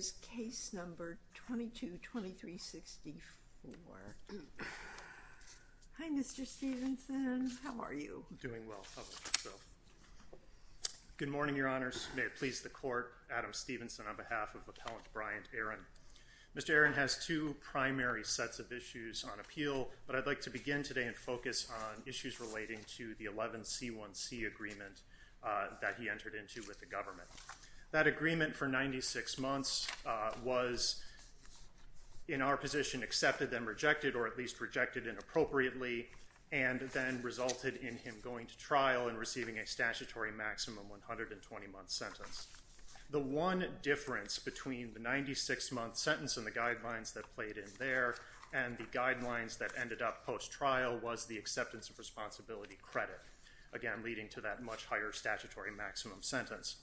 222364. Hi Mr. Stevenson. How are you? Doing well. Good morning your honors. May it please the court. Adam Stevenson on behalf of Appellant Bryant Aron. Mr. Aron has two primary sets of issues on appeal, but I'd like to begin today and focus on issues relating to the 11C1C agreement that he entered into with the government. That agreement for 96 months, was in our position accepted and rejected or at least rejected inappropriately and then resulted in him going to trial and receiving a statutory maximum 120 month sentence. The one difference between the 96 month sentence and the guidelines that played in there and the guidelines that ended up post trial was the acceptance of responsibility credit, again leading to that much higher statutory maximum sentence.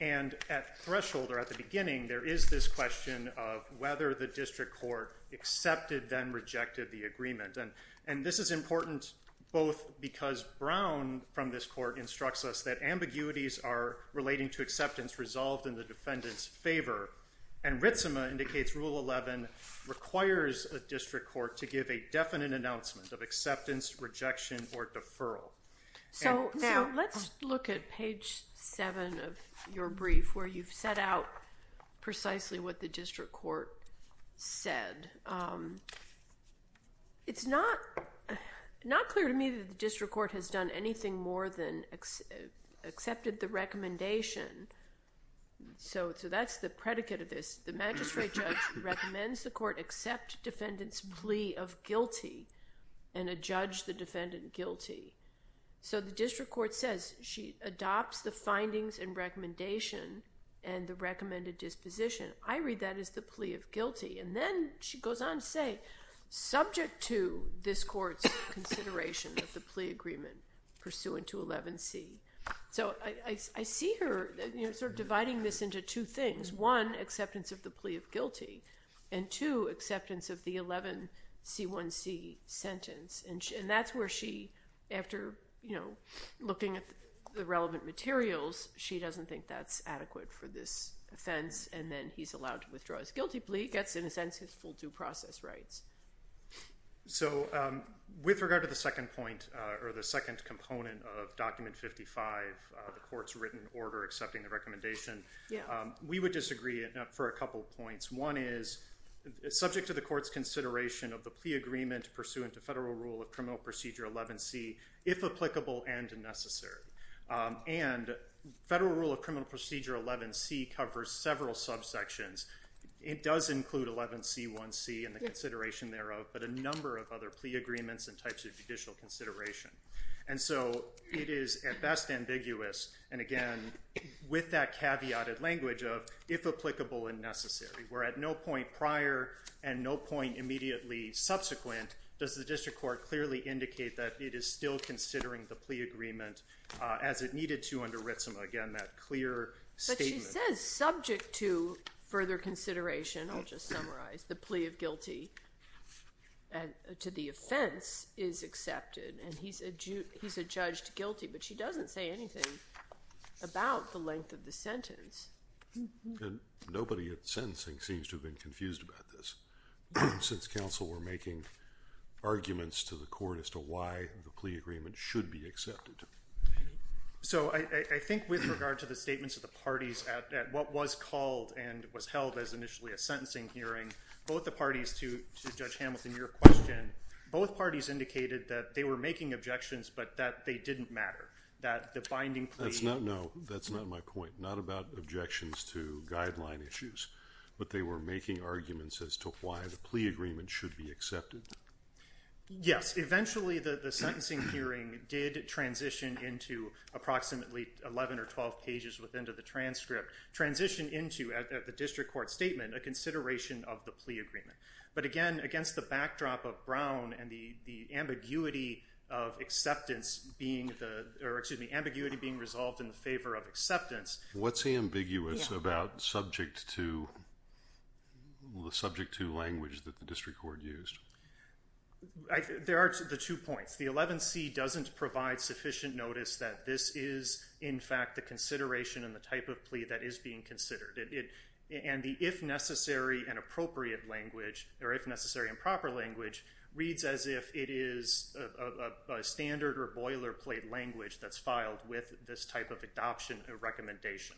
And at threshold or at the beginning there is this question of whether the district court accepted then rejected the agreement. And this is important both because Brown from this court instructs us that ambiguities are relating to acceptance resolved in the defendant's favor. And Ritzema indicates Rule 11 requires a district court to give a definite announcement of acceptance, rejection, or deferral. So let's look at page 7 of your brief where you've set out precisely what the district court said. It's not clear to me that the district court has done anything more than accepted the recommendation. So that's the predicate of this. The magistrate judge recommends the court accept defendant's plea of guilty and adjudge the defendant guilty. So the district court says she adopts the findings and recommendation and the recommended disposition. I read that as the plea of guilty. And then she goes on to say subject to this court's consideration of the plea agreement pursuant to 11C. So I see her sort of dividing this into two things. One, acceptance of the plea of guilty. And two, acceptance of the 11C1C sentence. And that's where she, after looking at the relevant materials, she doesn't think that's adequate for this offense and then he's allowed to withdraw his guilty plea. He gets, in a sense, his full due process rights. So with regard to the second point, or the second component of Document 55, the court's written order accepting the recommendation, we would disagree for a couple points. One is subject to the court's consideration of the plea agreement pursuant to Federal Rule of Criminal Procedure 11C, if applicable and necessary. And Federal Rule of Criminal Procedure 11C covers several subsections. It does include 11C1C and the consideration thereof, but a number of other plea agreements and types of judicial consideration. And so it is at best ambiguous, and again, with that caveated language of, if applicable and necessary. Where at no point prior and no point immediately subsequent does the district court clearly indicate that it is still considering the plea agreement as it needed to under Ritzema. But she says subject to further consideration, I'll just summarize, the plea of guilty to the offense is accepted and he's adjudged guilty, but she doesn't say anything about the length of the sentence. Nobody at sentencing seems to have been confused about this since counsel were making arguments to the court as to why the plea agreement should be accepted. So I think with regard to the statements of the parties at what was called and was held as initially a sentencing hearing, both the parties to Judge Hamilton, your question, both parties indicated that they were making objections, but that they didn't matter. That the binding plea... No, that's not my point. Not about objections to guideline issues, but they were making arguments as to why the plea agreement should be accepted. Yes, eventually the sentencing hearing did transition into approximately 11 or 12 pages within the transcript, transition into, at the district court statement, a consideration of the plea agreement. But again, against the backdrop of Brown and the ambiguity of acceptance being the, or excuse me, ambiguity being resolved in favor of acceptance... What's ambiguous about subject to language that the district court used? There are the two points. The 11C doesn't provide sufficient notice that this is in fact the consideration and the type of plea that is being considered. And the if necessary and appropriate language, or if necessary and proper language, reads as if it is a standard or boilerplate language that's filed with this type of adoption or recommendation.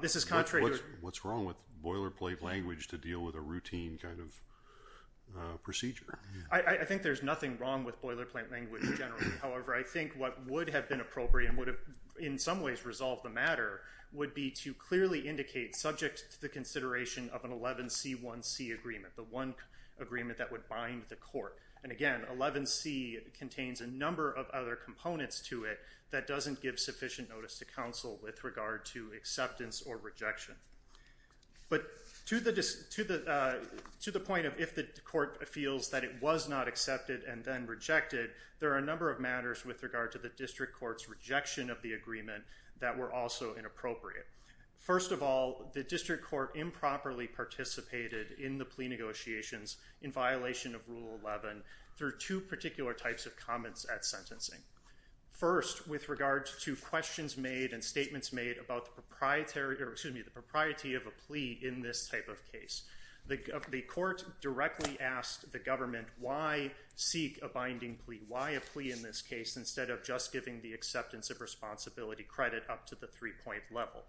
This is contrary to... What's wrong with boilerplate language to deal with a routine kind of procedure? I think there's nothing wrong with boilerplate language generally. However, I think what would have been appropriate and would have in some ways resolved the matter would be to clearly indicate subject to the consideration of an 11C1C agreement. The one agreement that would bind the court. And again, 11C contains a number of other components to it that doesn't give sufficient notice to counsel with regard to acceptance or rejection. But to the point of if the court feels that it was not accepted and then rejected, there are a number of matters with regard to the district court's rejection of the agreement that were also inappropriate. First of all, the district court improperly participated in the plea negotiations in violation of Rule 11 through two particular types of comments at sentencing. First, with regard to questions made and statements made about the propriety of a plea in this type of case. The court directly asked the government, why seek a binding plea? Why a plea in this case instead of just giving the acceptance of responsibility credit up to the three-point level?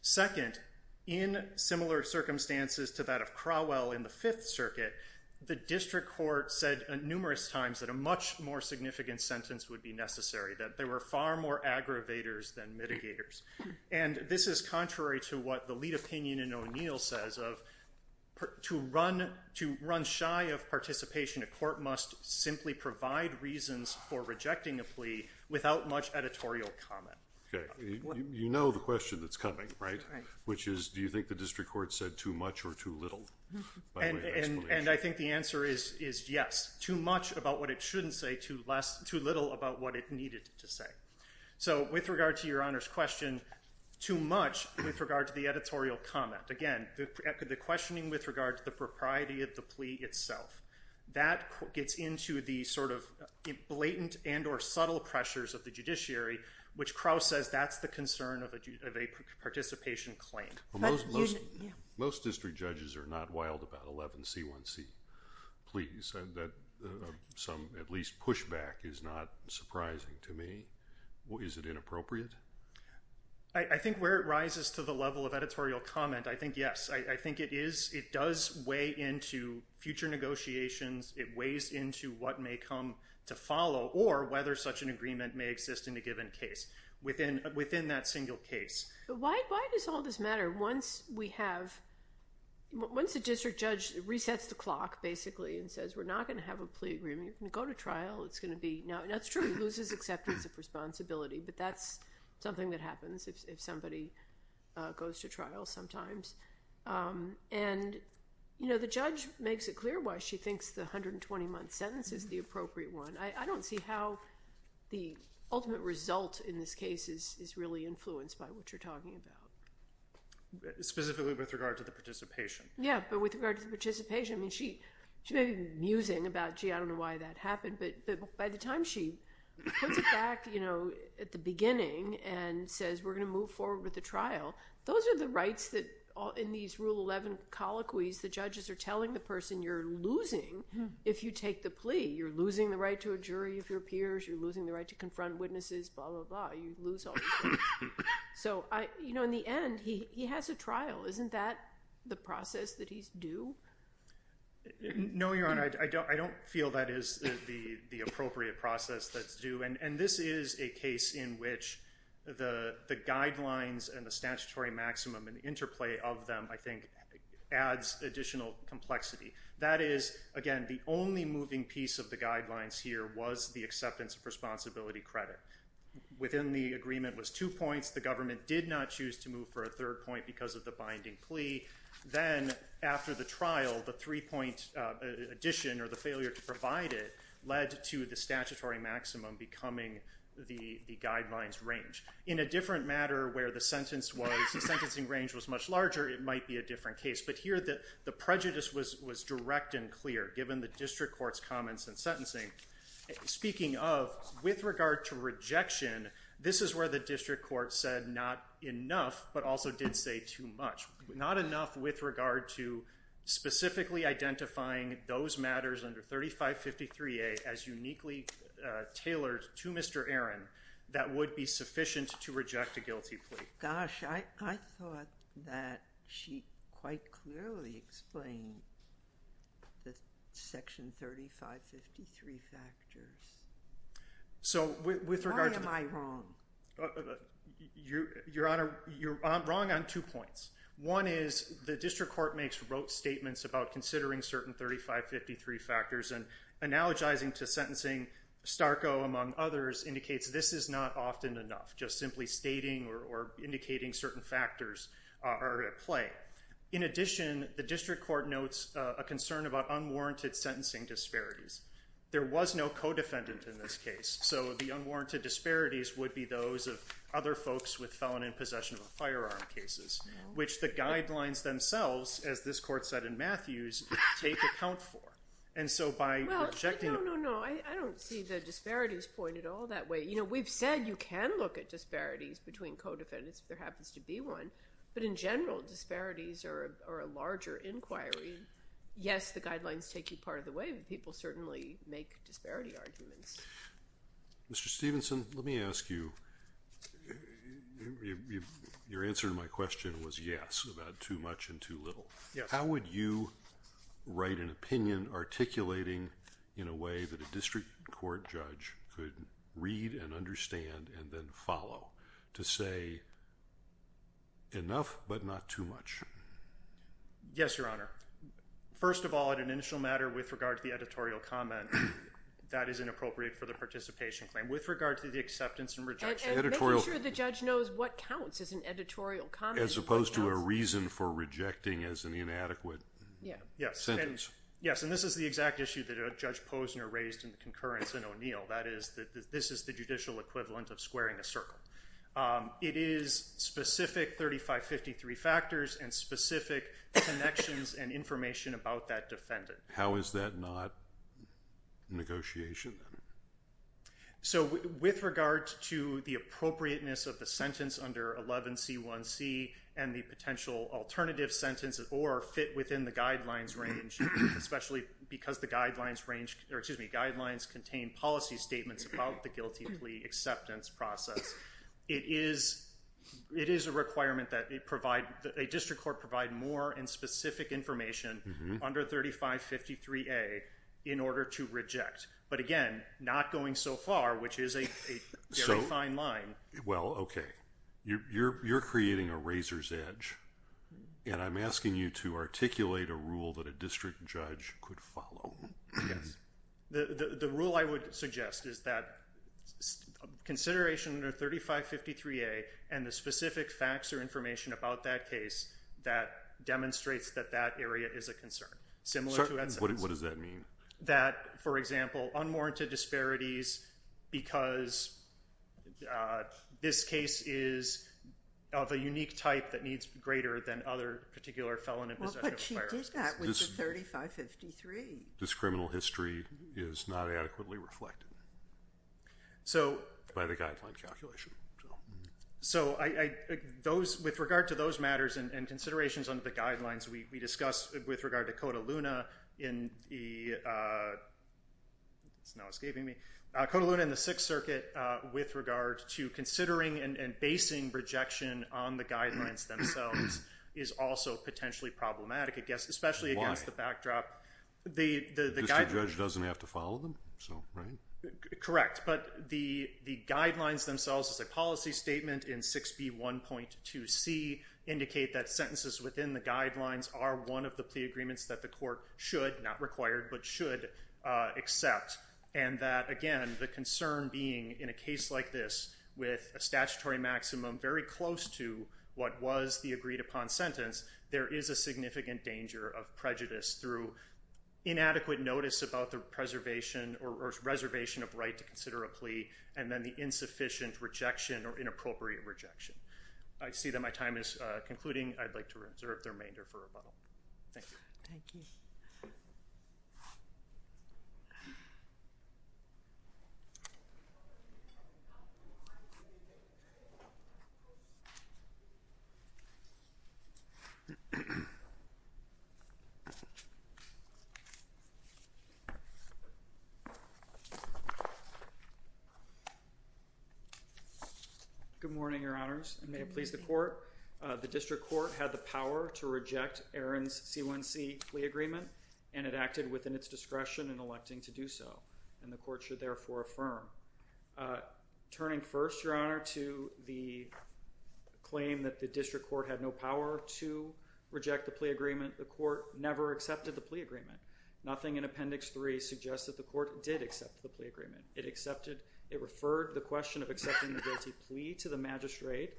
Second, in similar circumstances to that of Crowell in the Fifth Circuit, the district court said numerous times that a much more significant sentence would be necessary. That there were far more aggravators than mitigators. And this is contrary to what the lead opinion in O'Neill says of to run shy of participation, a court must simply provide reasons for rejecting a plea without much editorial comment. You know the question that's coming, right? Which is, do you think the district court said too much or too little? And I think the answer is yes. Too much about what it shouldn't say, too little about what it needed to say. So with regard to your Honor's question, too much with regard to the editorial comment. Again, the questioning with regard to the propriety of the plea itself. That gets into the sort of blatant and or subtle pressures of the judiciary, which Crowell says that's the concern of a participation claim. Most district judges are not wild about 11C1C. Please, some at least pushback is not surprising to me. Is it inappropriate? I think where it rises to the level of editorial comment, I think yes. I think it is. It does weigh into future negotiations. It weighs into what may come to follow or whether such an agreement may exist in a given case within that single case. Why does all this matter? Once the district judge resets the clock, basically, and says we're not going to have a plea agreement, you can go to trial. It's going to be now. That's true. It loses acceptance of responsibility, but that's something that happens if somebody goes to trial sometimes. And the judge makes it clear why she thinks the 120-month sentence is the appropriate one. I don't see how the ultimate result in this case is really influenced by what you're talking about. Specifically with regard to the participation. Yeah, but with regard to the participation, she may be musing about, gee, I don't know why that happened. But by the time she puts it back at the beginning and says we're going to move forward with the trial, those are the rights that in these Rule 11 colloquies the judges are telling the person you're losing if you take the plea. You're losing the right to a jury of your peers. You're losing the right to confront witnesses. Blah, blah, blah. You lose all that. So in the end, he has a trial. Isn't that the process that he's due? No, Your Honor. I don't feel that is the appropriate process that's due. And this is a case in which the guidelines and the statutory maximum and the interplay of them, I think, adds additional complexity. That is, again, the only moving piece of the guidelines here was the acceptance of responsibility credit. Within the agreement was two points. The government did not choose to move for a third point because of the binding plea. Then after the trial, the three-point addition or the failure to provide it led to the statutory maximum becoming the guidelines range. In a different matter where the sentence was, the sentencing range was much larger, it might be a different case. But here the prejudice was direct and clear given the district court's comments and sentencing. Speaking of, with regard to rejection, this is where the district court said not enough but also did say too much. Not enough with regard to specifically identifying those matters under 3553A as uniquely tailored to Mr. Aaron that would be sufficient to reject a guilty plea. Gosh, I thought that she quite clearly explained the section 3553 factors. Why am I wrong? Your Honor, you're wrong on two points. One is the district court makes rote statements about considering certain 3553 factors and analogizing to sentencing. Starco, among others, indicates this is not often enough, just simply stating or indicating certain factors are at play. In addition, the district court notes a concern about unwarranted sentencing disparities. There was no co-defendant in this case, so the unwarranted disparities would be those of other folks with felon in possession of a firearm cases, which the guidelines themselves, as this court said in Matthews, take account for. No, I don't see the disparities pointed all that way. We've said you can look at disparities between co-defendants if there happens to be one, but in general, disparities are a larger inquiry. Yes, the guidelines take you part of the way, but people certainly make disparity arguments. Mr. Stevenson, let me ask you. Your answer to my question was yes, about too much and too little. How would you write an opinion articulating in a way that a district court judge could read and understand and then follow to say enough but not too much? Yes, Your Honor. First of all, in an initial matter with regard to the editorial comment, that is inappropriate for the participation claim. With regard to the acceptance and rejection. And making sure the judge knows what counts as an editorial comment. As opposed to a reason for rejecting as an inadequate sentence. Yes, and this is the exact issue that Judge Posner raised in concurrence in O'Neill. This is the judicial equivalent of squaring a circle. It is specific 3553 factors and specific connections and information about that defendant. How is that not negotiation? With regard to the appropriateness of the sentence under 11C1C and the potential alternative sentence or fit within the guidelines range. Especially because the guidelines contain policy statements about the guilty plea acceptance process. It is a requirement that a district court provide more and specific information under 3553A in order to reject. But again, not going so far, which is a very fine line. Well, okay. You're creating a razor's edge. And I'm asking you to articulate a rule that a district judge could follow. Yes. The rule I would suggest is that consideration under 3553A and the specific facts or information about that case. That demonstrates that that area is a concern. Similar to that sentence. What does that mean? That, for example, unwarranted disparities because this case is of a unique type that needs greater than other particular felon in possession of firearms. But she did that with the 3553. This criminal history is not adequately reflected by the guideline calculation. So with regard to those matters and considerations under the guidelines we discussed with regard to Cota Luna in the 6th Circuit, with regard to considering and basing rejection on the guidelines themselves is also potentially problematic. Why? Especially against the backdrop. The district judge doesn't have to follow them? Correct. But the guidelines themselves as a policy statement in 6B1.2C indicate that sentences within the guidelines are one of the plea agreements that the court should, not required, but should accept. And that, again, the concern being in a case like this with a statutory maximum very close to what was the agreed upon sentence, there is a significant danger of prejudice through inadequate notice about the preservation or reservation of right to consider a plea, and then the insufficient rejection or inappropriate rejection. I see that my time is concluding. I'd like to reserve the remainder for rebuttal. Thank you. Thank you. Good morning, Your Honors, and may it please the court. The district court had the power to reject Aaron's C1C plea agreement, and it acted within its discretion in electing to do so, and the court should therefore affirm. Turning first, Your Honor, to the claim that the district court had no power to reject the plea agreement, the court never accepted the plea agreement. Nothing in Appendix 3 suggests that the court did accept the plea agreement. It accepted. It referred the question of accepting the guilty plea to the magistrate.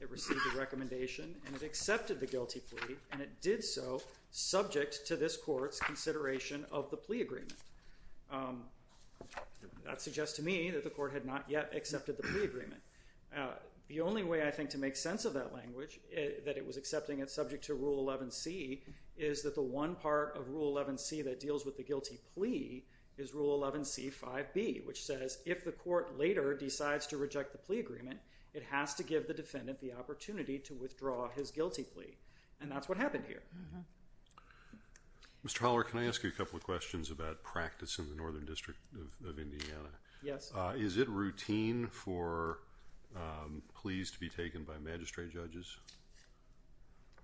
It received a recommendation, and it accepted the guilty plea, and it did so subject to this court's consideration of the plea agreement. That suggests to me that the court had not yet accepted the plea agreement. The only way, I think, to make sense of that language, that it was accepting it subject to Rule 11C, is that the one part of Rule 11C that deals with the guilty plea is Rule 11C5B, which says if the court later decides to reject the plea agreement, it has to give the defendant the opportunity to withdraw his guilty plea, and that's what happened here. Mr. Holler, can I ask you a couple of questions about practice in the Northern District of Indiana? Yes. Is it routine for pleas to be taken by magistrate judges?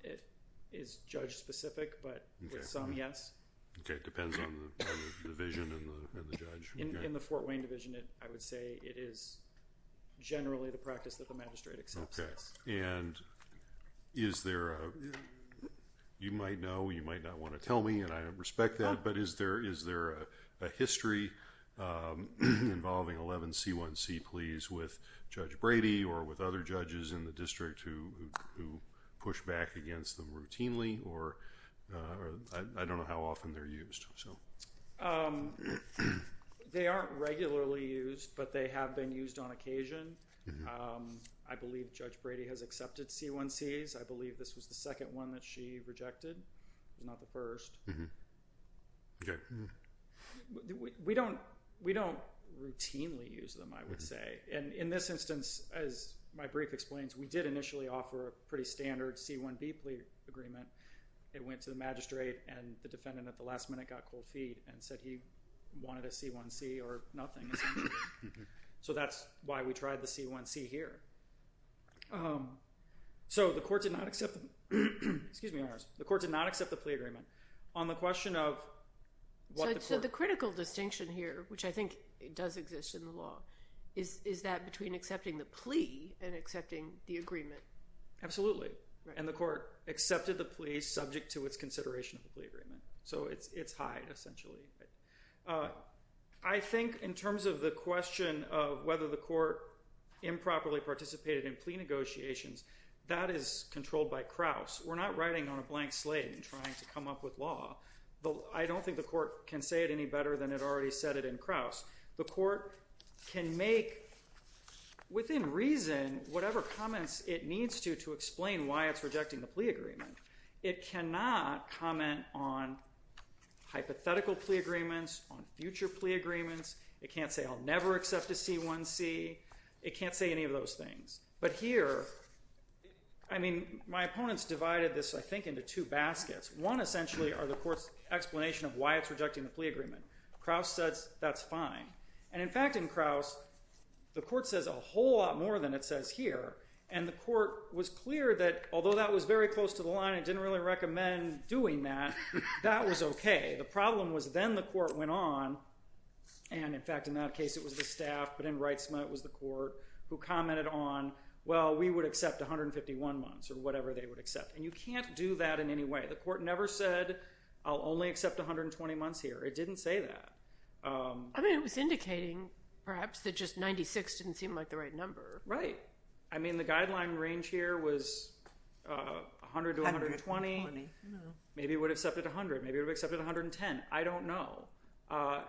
It is judge-specific, but with some, yes. Okay. It depends on the division and the judge. In the Fort Wayne division, I would say it is generally the practice that the magistrate accepts. Okay, and is there a, you might know, you might not want to tell me, and I respect that, but is there a history involving 11C1C pleas with Judge Brady or with other judges in the district who push back against them routinely, or I don't know how often they're used, so. They aren't regularly used, but they have been used on occasion. I believe Judge Brady has accepted C1Cs. I believe this was the second one that she rejected, not the first. Okay. We don't routinely use them, I would say, and in this instance, as my brief explains, we did initially offer a pretty standard C1B plea agreement. It went to the magistrate, and the defendant at the last minute got cold feet and said he wanted a C1C or nothing, essentially. So that's why we tried the C1C here. So the court did not accept the plea agreement on the question of what the court. So the critical distinction here, which I think does exist in the law, is that between accepting the plea and accepting the agreement. Absolutely, and the court accepted the plea subject to its consideration of the plea agreement. So it's high, essentially. I think in terms of the question of whether the court improperly participated in plea negotiations, that is controlled by Krauss. We're not writing on a blank slate and trying to come up with law. I don't think the court can say it any better than it already said it in Krauss. The court can make, within reason, whatever comments it needs to to explain why it's rejecting the plea agreement. It cannot comment on hypothetical plea agreements, on future plea agreements. It can't say I'll never accept a C1C. It can't say any of those things. But here, I mean, my opponents divided this, I think, into two baskets. One, essentially, are the court's explanation of why it's rejecting the plea agreement. Krauss says that's fine. And in fact, in Krauss, the court says a whole lot more than it says here. And the court was clear that, although that was very close to the line, it didn't really recommend doing that, that was OK. The problem was then the court went on, and in fact, in that case, it was the staff, but in Wright-Smith, it was the court, who commented on, well, we would accept 151 months or whatever they would accept. And you can't do that in any way. The court never said I'll only accept 120 months here. It didn't say that. I mean, it was indicating, perhaps, that just 96 didn't seem like the right number. Right. I mean, the guideline range here was 100 to 120. I don't know. Maybe it would have accepted 100. Maybe it would have accepted 110. I don't know.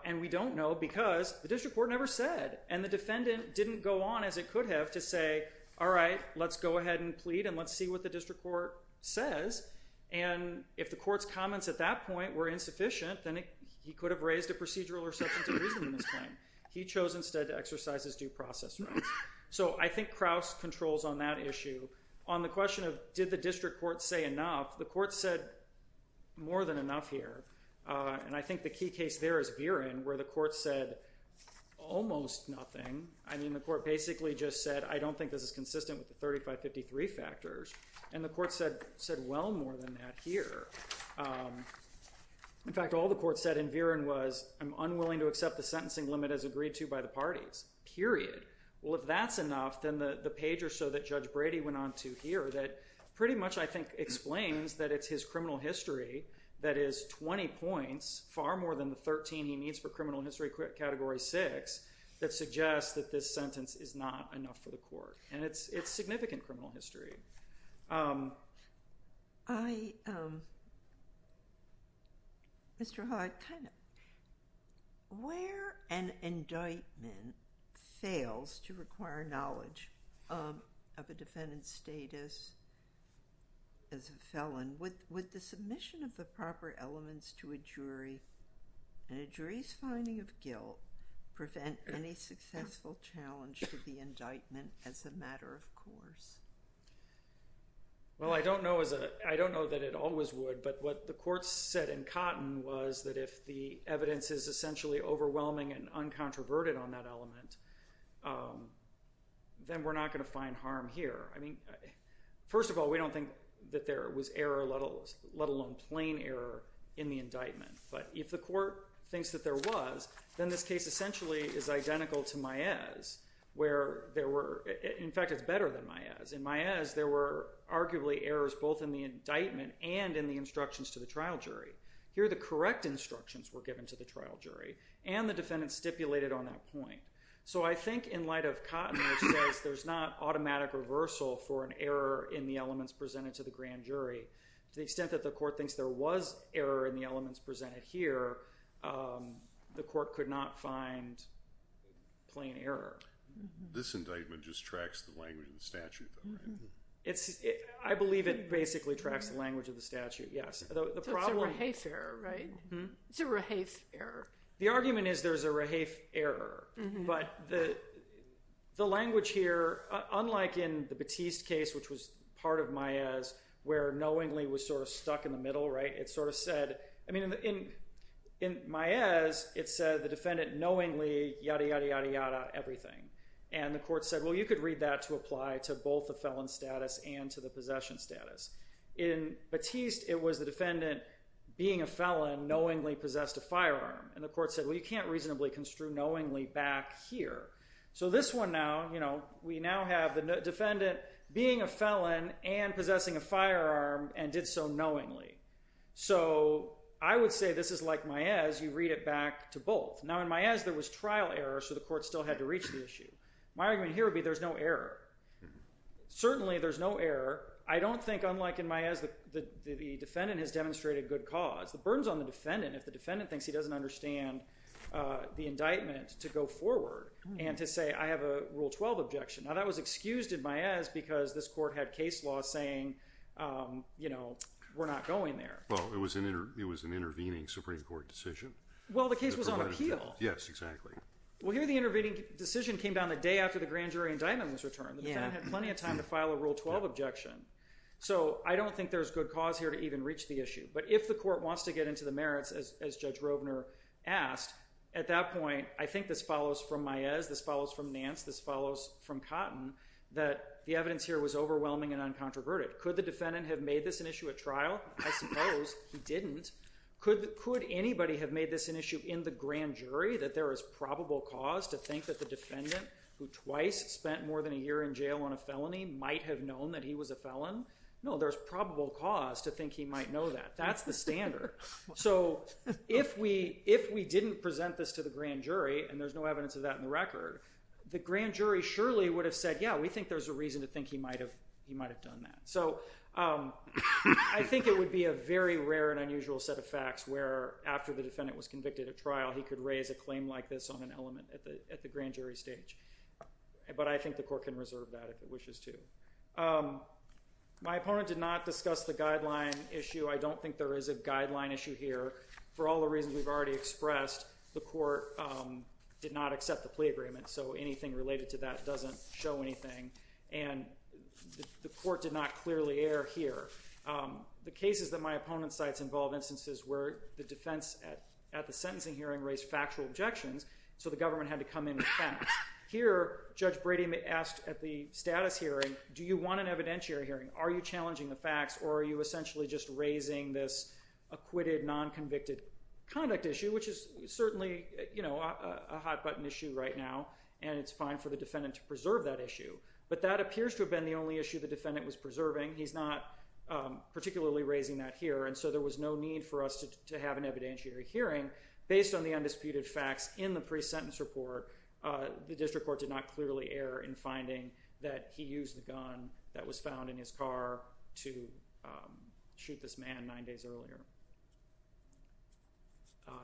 And we don't know because the district court never said. And the defendant didn't go on, as it could have, to say, all right, let's go ahead and plead, and let's see what the district court says. And if the court's comments at that point were insufficient, then he could have raised a procedural reception to reason in this claim. He chose instead to exercise his due process rights. So I think Crouse controls on that issue. On the question of did the district court say enough, the court said more than enough here. And I think the key case there is Viren, where the court said almost nothing. I mean, the court basically just said, I don't think this is consistent with the 3553 factors. And the court said well more than that here. In fact, all the court said in Viren was I'm unwilling to accept the sentencing limit as agreed to by the parties, period. Well, if that's enough, then the page or so that Judge Brady went on to here that pretty much, I think, explains that it's his criminal history that is 20 points, far more than the 13 he needs for criminal history category 6, that suggests that this sentence is not enough for the court. And it's significant criminal history. Mr. Hart, where an indictment fails to require knowledge of a defendant's status as a felon, would the submission of the proper elements to a jury and a jury's finding of guilt prevent any successful challenge to the indictment as a matter of course? Well, I don't know that it always would. But what the court said in Cotton was that if the evidence is essentially overwhelming and uncontroverted on that element, then we're not going to find harm here. I mean, first of all, we don't think that there was error, let alone plain error in the indictment. But if the court thinks that there was, then this case essentially is identical to Maez, where there were—in fact, it's better than Maez. In Maez, there were arguably errors both in the indictment and in the instructions to the trial jury. Here, the correct instructions were given to the trial jury and the defendant stipulated on that point. So I think in light of Cotton, there's not automatic reversal for an error in the elements presented to the grand jury. To the extent that the court thinks there was error in the elements presented here, the court could not find plain error. This indictment just tracks the language of the statute, though, right? I believe it basically tracks the language of the statute, yes. So it's a Rahaf error, right? It's a Rahaf error. The argument is there's a Rahaf error, but the language here, unlike in the Batiste case, which was part of Maez, where knowingly was sort of stuck in the middle, right? It sort of said—I mean, in Maez, it said the defendant knowingly yada, yada, yada, yada, everything. And the court said, well, you could read that to apply to both the felon status and to the possession status. In Batiste, it was the defendant being a felon, knowingly possessed a firearm. And the court said, well, you can't reasonably construe knowingly back here. So this one now, you know, we now have the defendant being a felon and possessing a firearm and did so knowingly. So I would say this is like Maez. You read it back to both. Now, in Maez, there was trial error, so the court still had to reach the issue. My argument here would be there's no error. Certainly, there's no error. I don't think, unlike in Maez, the defendant has demonstrated good cause. The burden's on the defendant if the defendant thinks he doesn't understand the indictment to go forward and to say, I have a Rule 12 objection. Now, that was excused in Maez because this court had case law saying, you know, we're not going there. Well, it was an intervening Supreme Court decision. Well, the case was on appeal. Yes, exactly. Well, here the intervening decision came down the day after the grand jury indictment was returned. The defendant had plenty of time to file a Rule 12 objection. So I don't think there's good cause here to even reach the issue. But if the court wants to get into the merits, as Judge Rovner asked, at that point, I think this follows from Maez, this follows from Nance, this follows from Cotton, that the evidence here was overwhelming and uncontroverted. Could the defendant have made this an issue at trial? I suppose he didn't. Could anybody have made this an issue in the grand jury, that there is probable cause to think that the defendant, who twice spent more than a year in jail on a felony, might have known that he was a felon? No, there's probable cause to think he might know that. That's the standard. So if we didn't present this to the grand jury, and there's no evidence of that in the record, the grand jury surely would have said, yeah, we think there's a reason to think he might have done that. So I think it would be a very rare and unusual set of facts where, after the defendant was convicted at trial, he could raise a claim like this on an element at the grand jury stage. But I think the court can reserve that if it wishes to. My opponent did not discuss the guideline issue. I don't think there is a guideline issue here. For all the reasons we've already expressed, the court did not accept the plea agreement. So anything related to that doesn't show anything. And the court did not clearly err here. The cases that my opponent cites involve instances where the defense at the sentencing hearing raised factual objections, so the government had to come in with facts. Here, Judge Brady asked at the status hearing, do you want an evidentiary hearing? Are you challenging the facts, or are you essentially just raising this acquitted, non-convicted conduct issue, which is certainly a hot-button issue right now. And it's fine for the defendant to preserve that issue. But that appears to have been the only issue the defendant was preserving. He's not particularly raising that here. And so there was no need for us to have an evidentiary hearing. Based on the undisputed facts in the pre-sentence report, the district court did not clearly err in finding that he used the gun that was found in his car to shoot this man nine days earlier.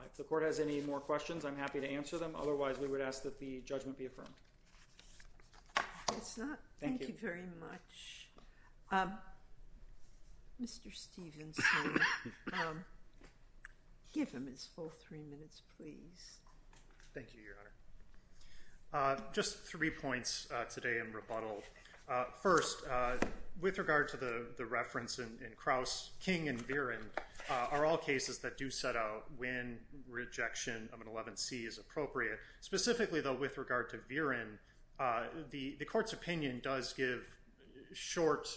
If the court has any more questions, I'm happy to answer them. Otherwise, we would ask that the judgment be affirmed. Thank you very much. Mr. Stephenson, give him his full three minutes, please. Thank you, Your Honor. Just three points today in rebuttal. First, with regard to the reference in Krauss, King and Viren are all cases that do set out when rejection of an 11C is appropriate. Specifically, though, with regard to Viren, the court's opinion does give short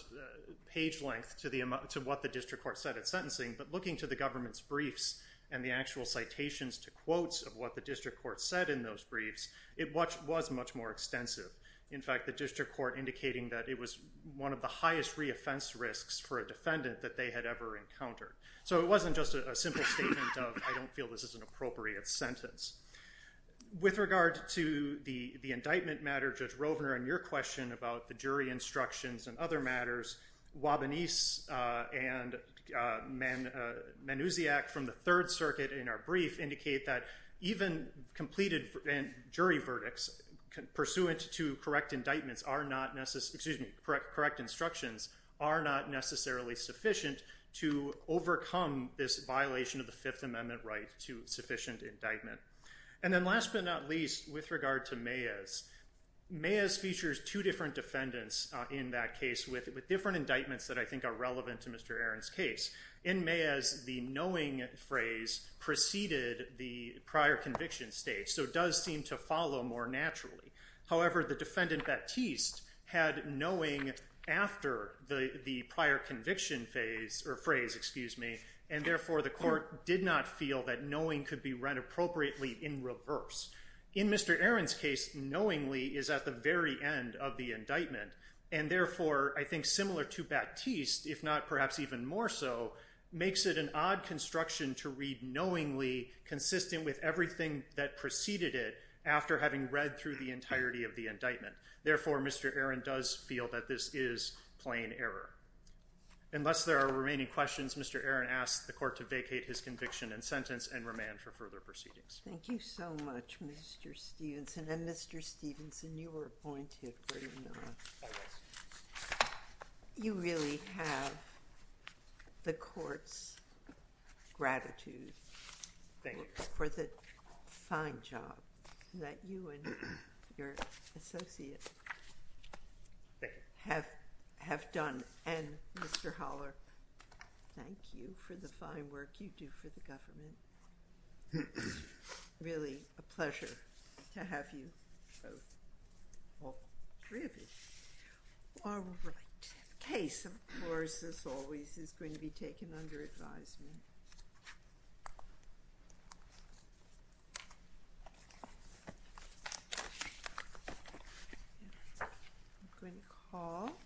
page length to what the district court said at sentencing. But looking to the government's briefs and the actual citations to quotes of what the district court said in those briefs, it was much more extensive. In fact, the district court indicating that it was one of the highest reoffense risks for a defendant that they had ever encountered. So it wasn't just a simple statement of, I don't feel this is an appropriate sentence. With regard to the indictment matter, Judge Rovner, and your question about the jury instructions and other matters, Wabanese and Manousiak from the Third Circuit in our brief indicate that even completed jury verdicts, pursuant to correct indictments are not necessary, excuse me, correct instructions, are not necessarily sufficient to overcome this violation of the Fifth Amendment right to sufficient indictment. And then last but not least, with regard to Mayes, Mayes features two different defendants in that case with different indictments that I think are relevant to Mr. Aaron's case. In Mayes, the knowing phrase preceded the prior conviction stage, so it does seem to follow more naturally. However, the defendant Baptiste had knowing after the prior conviction phase, or phrase, excuse me, and therefore the court did not feel that knowing could be read appropriately in reverse. In Mr. Aaron's case, knowingly is at the very end of the indictment. And therefore, I think similar to Baptiste, if not perhaps even more so, makes it an odd construction to read knowingly consistent with everything that preceded it after having read through the entirety of the indictment. Therefore, Mr. Aaron does feel that this is plain error. Unless there are remaining questions, Mr. Aaron asks the court to vacate his conviction and sentence and remand for further proceedings. Thank you so much, Mr. Stevenson. And Mr. Stevenson, you were appointed, were you not? You really have the court's gratitude for the fine job that you and your associate have done. And Mr. Holler, thank you for the fine work you do for the government. Really a pleasure to have you both. All three of you. All right. Case, of course, as always, is going to be taken under advisement. Thank you.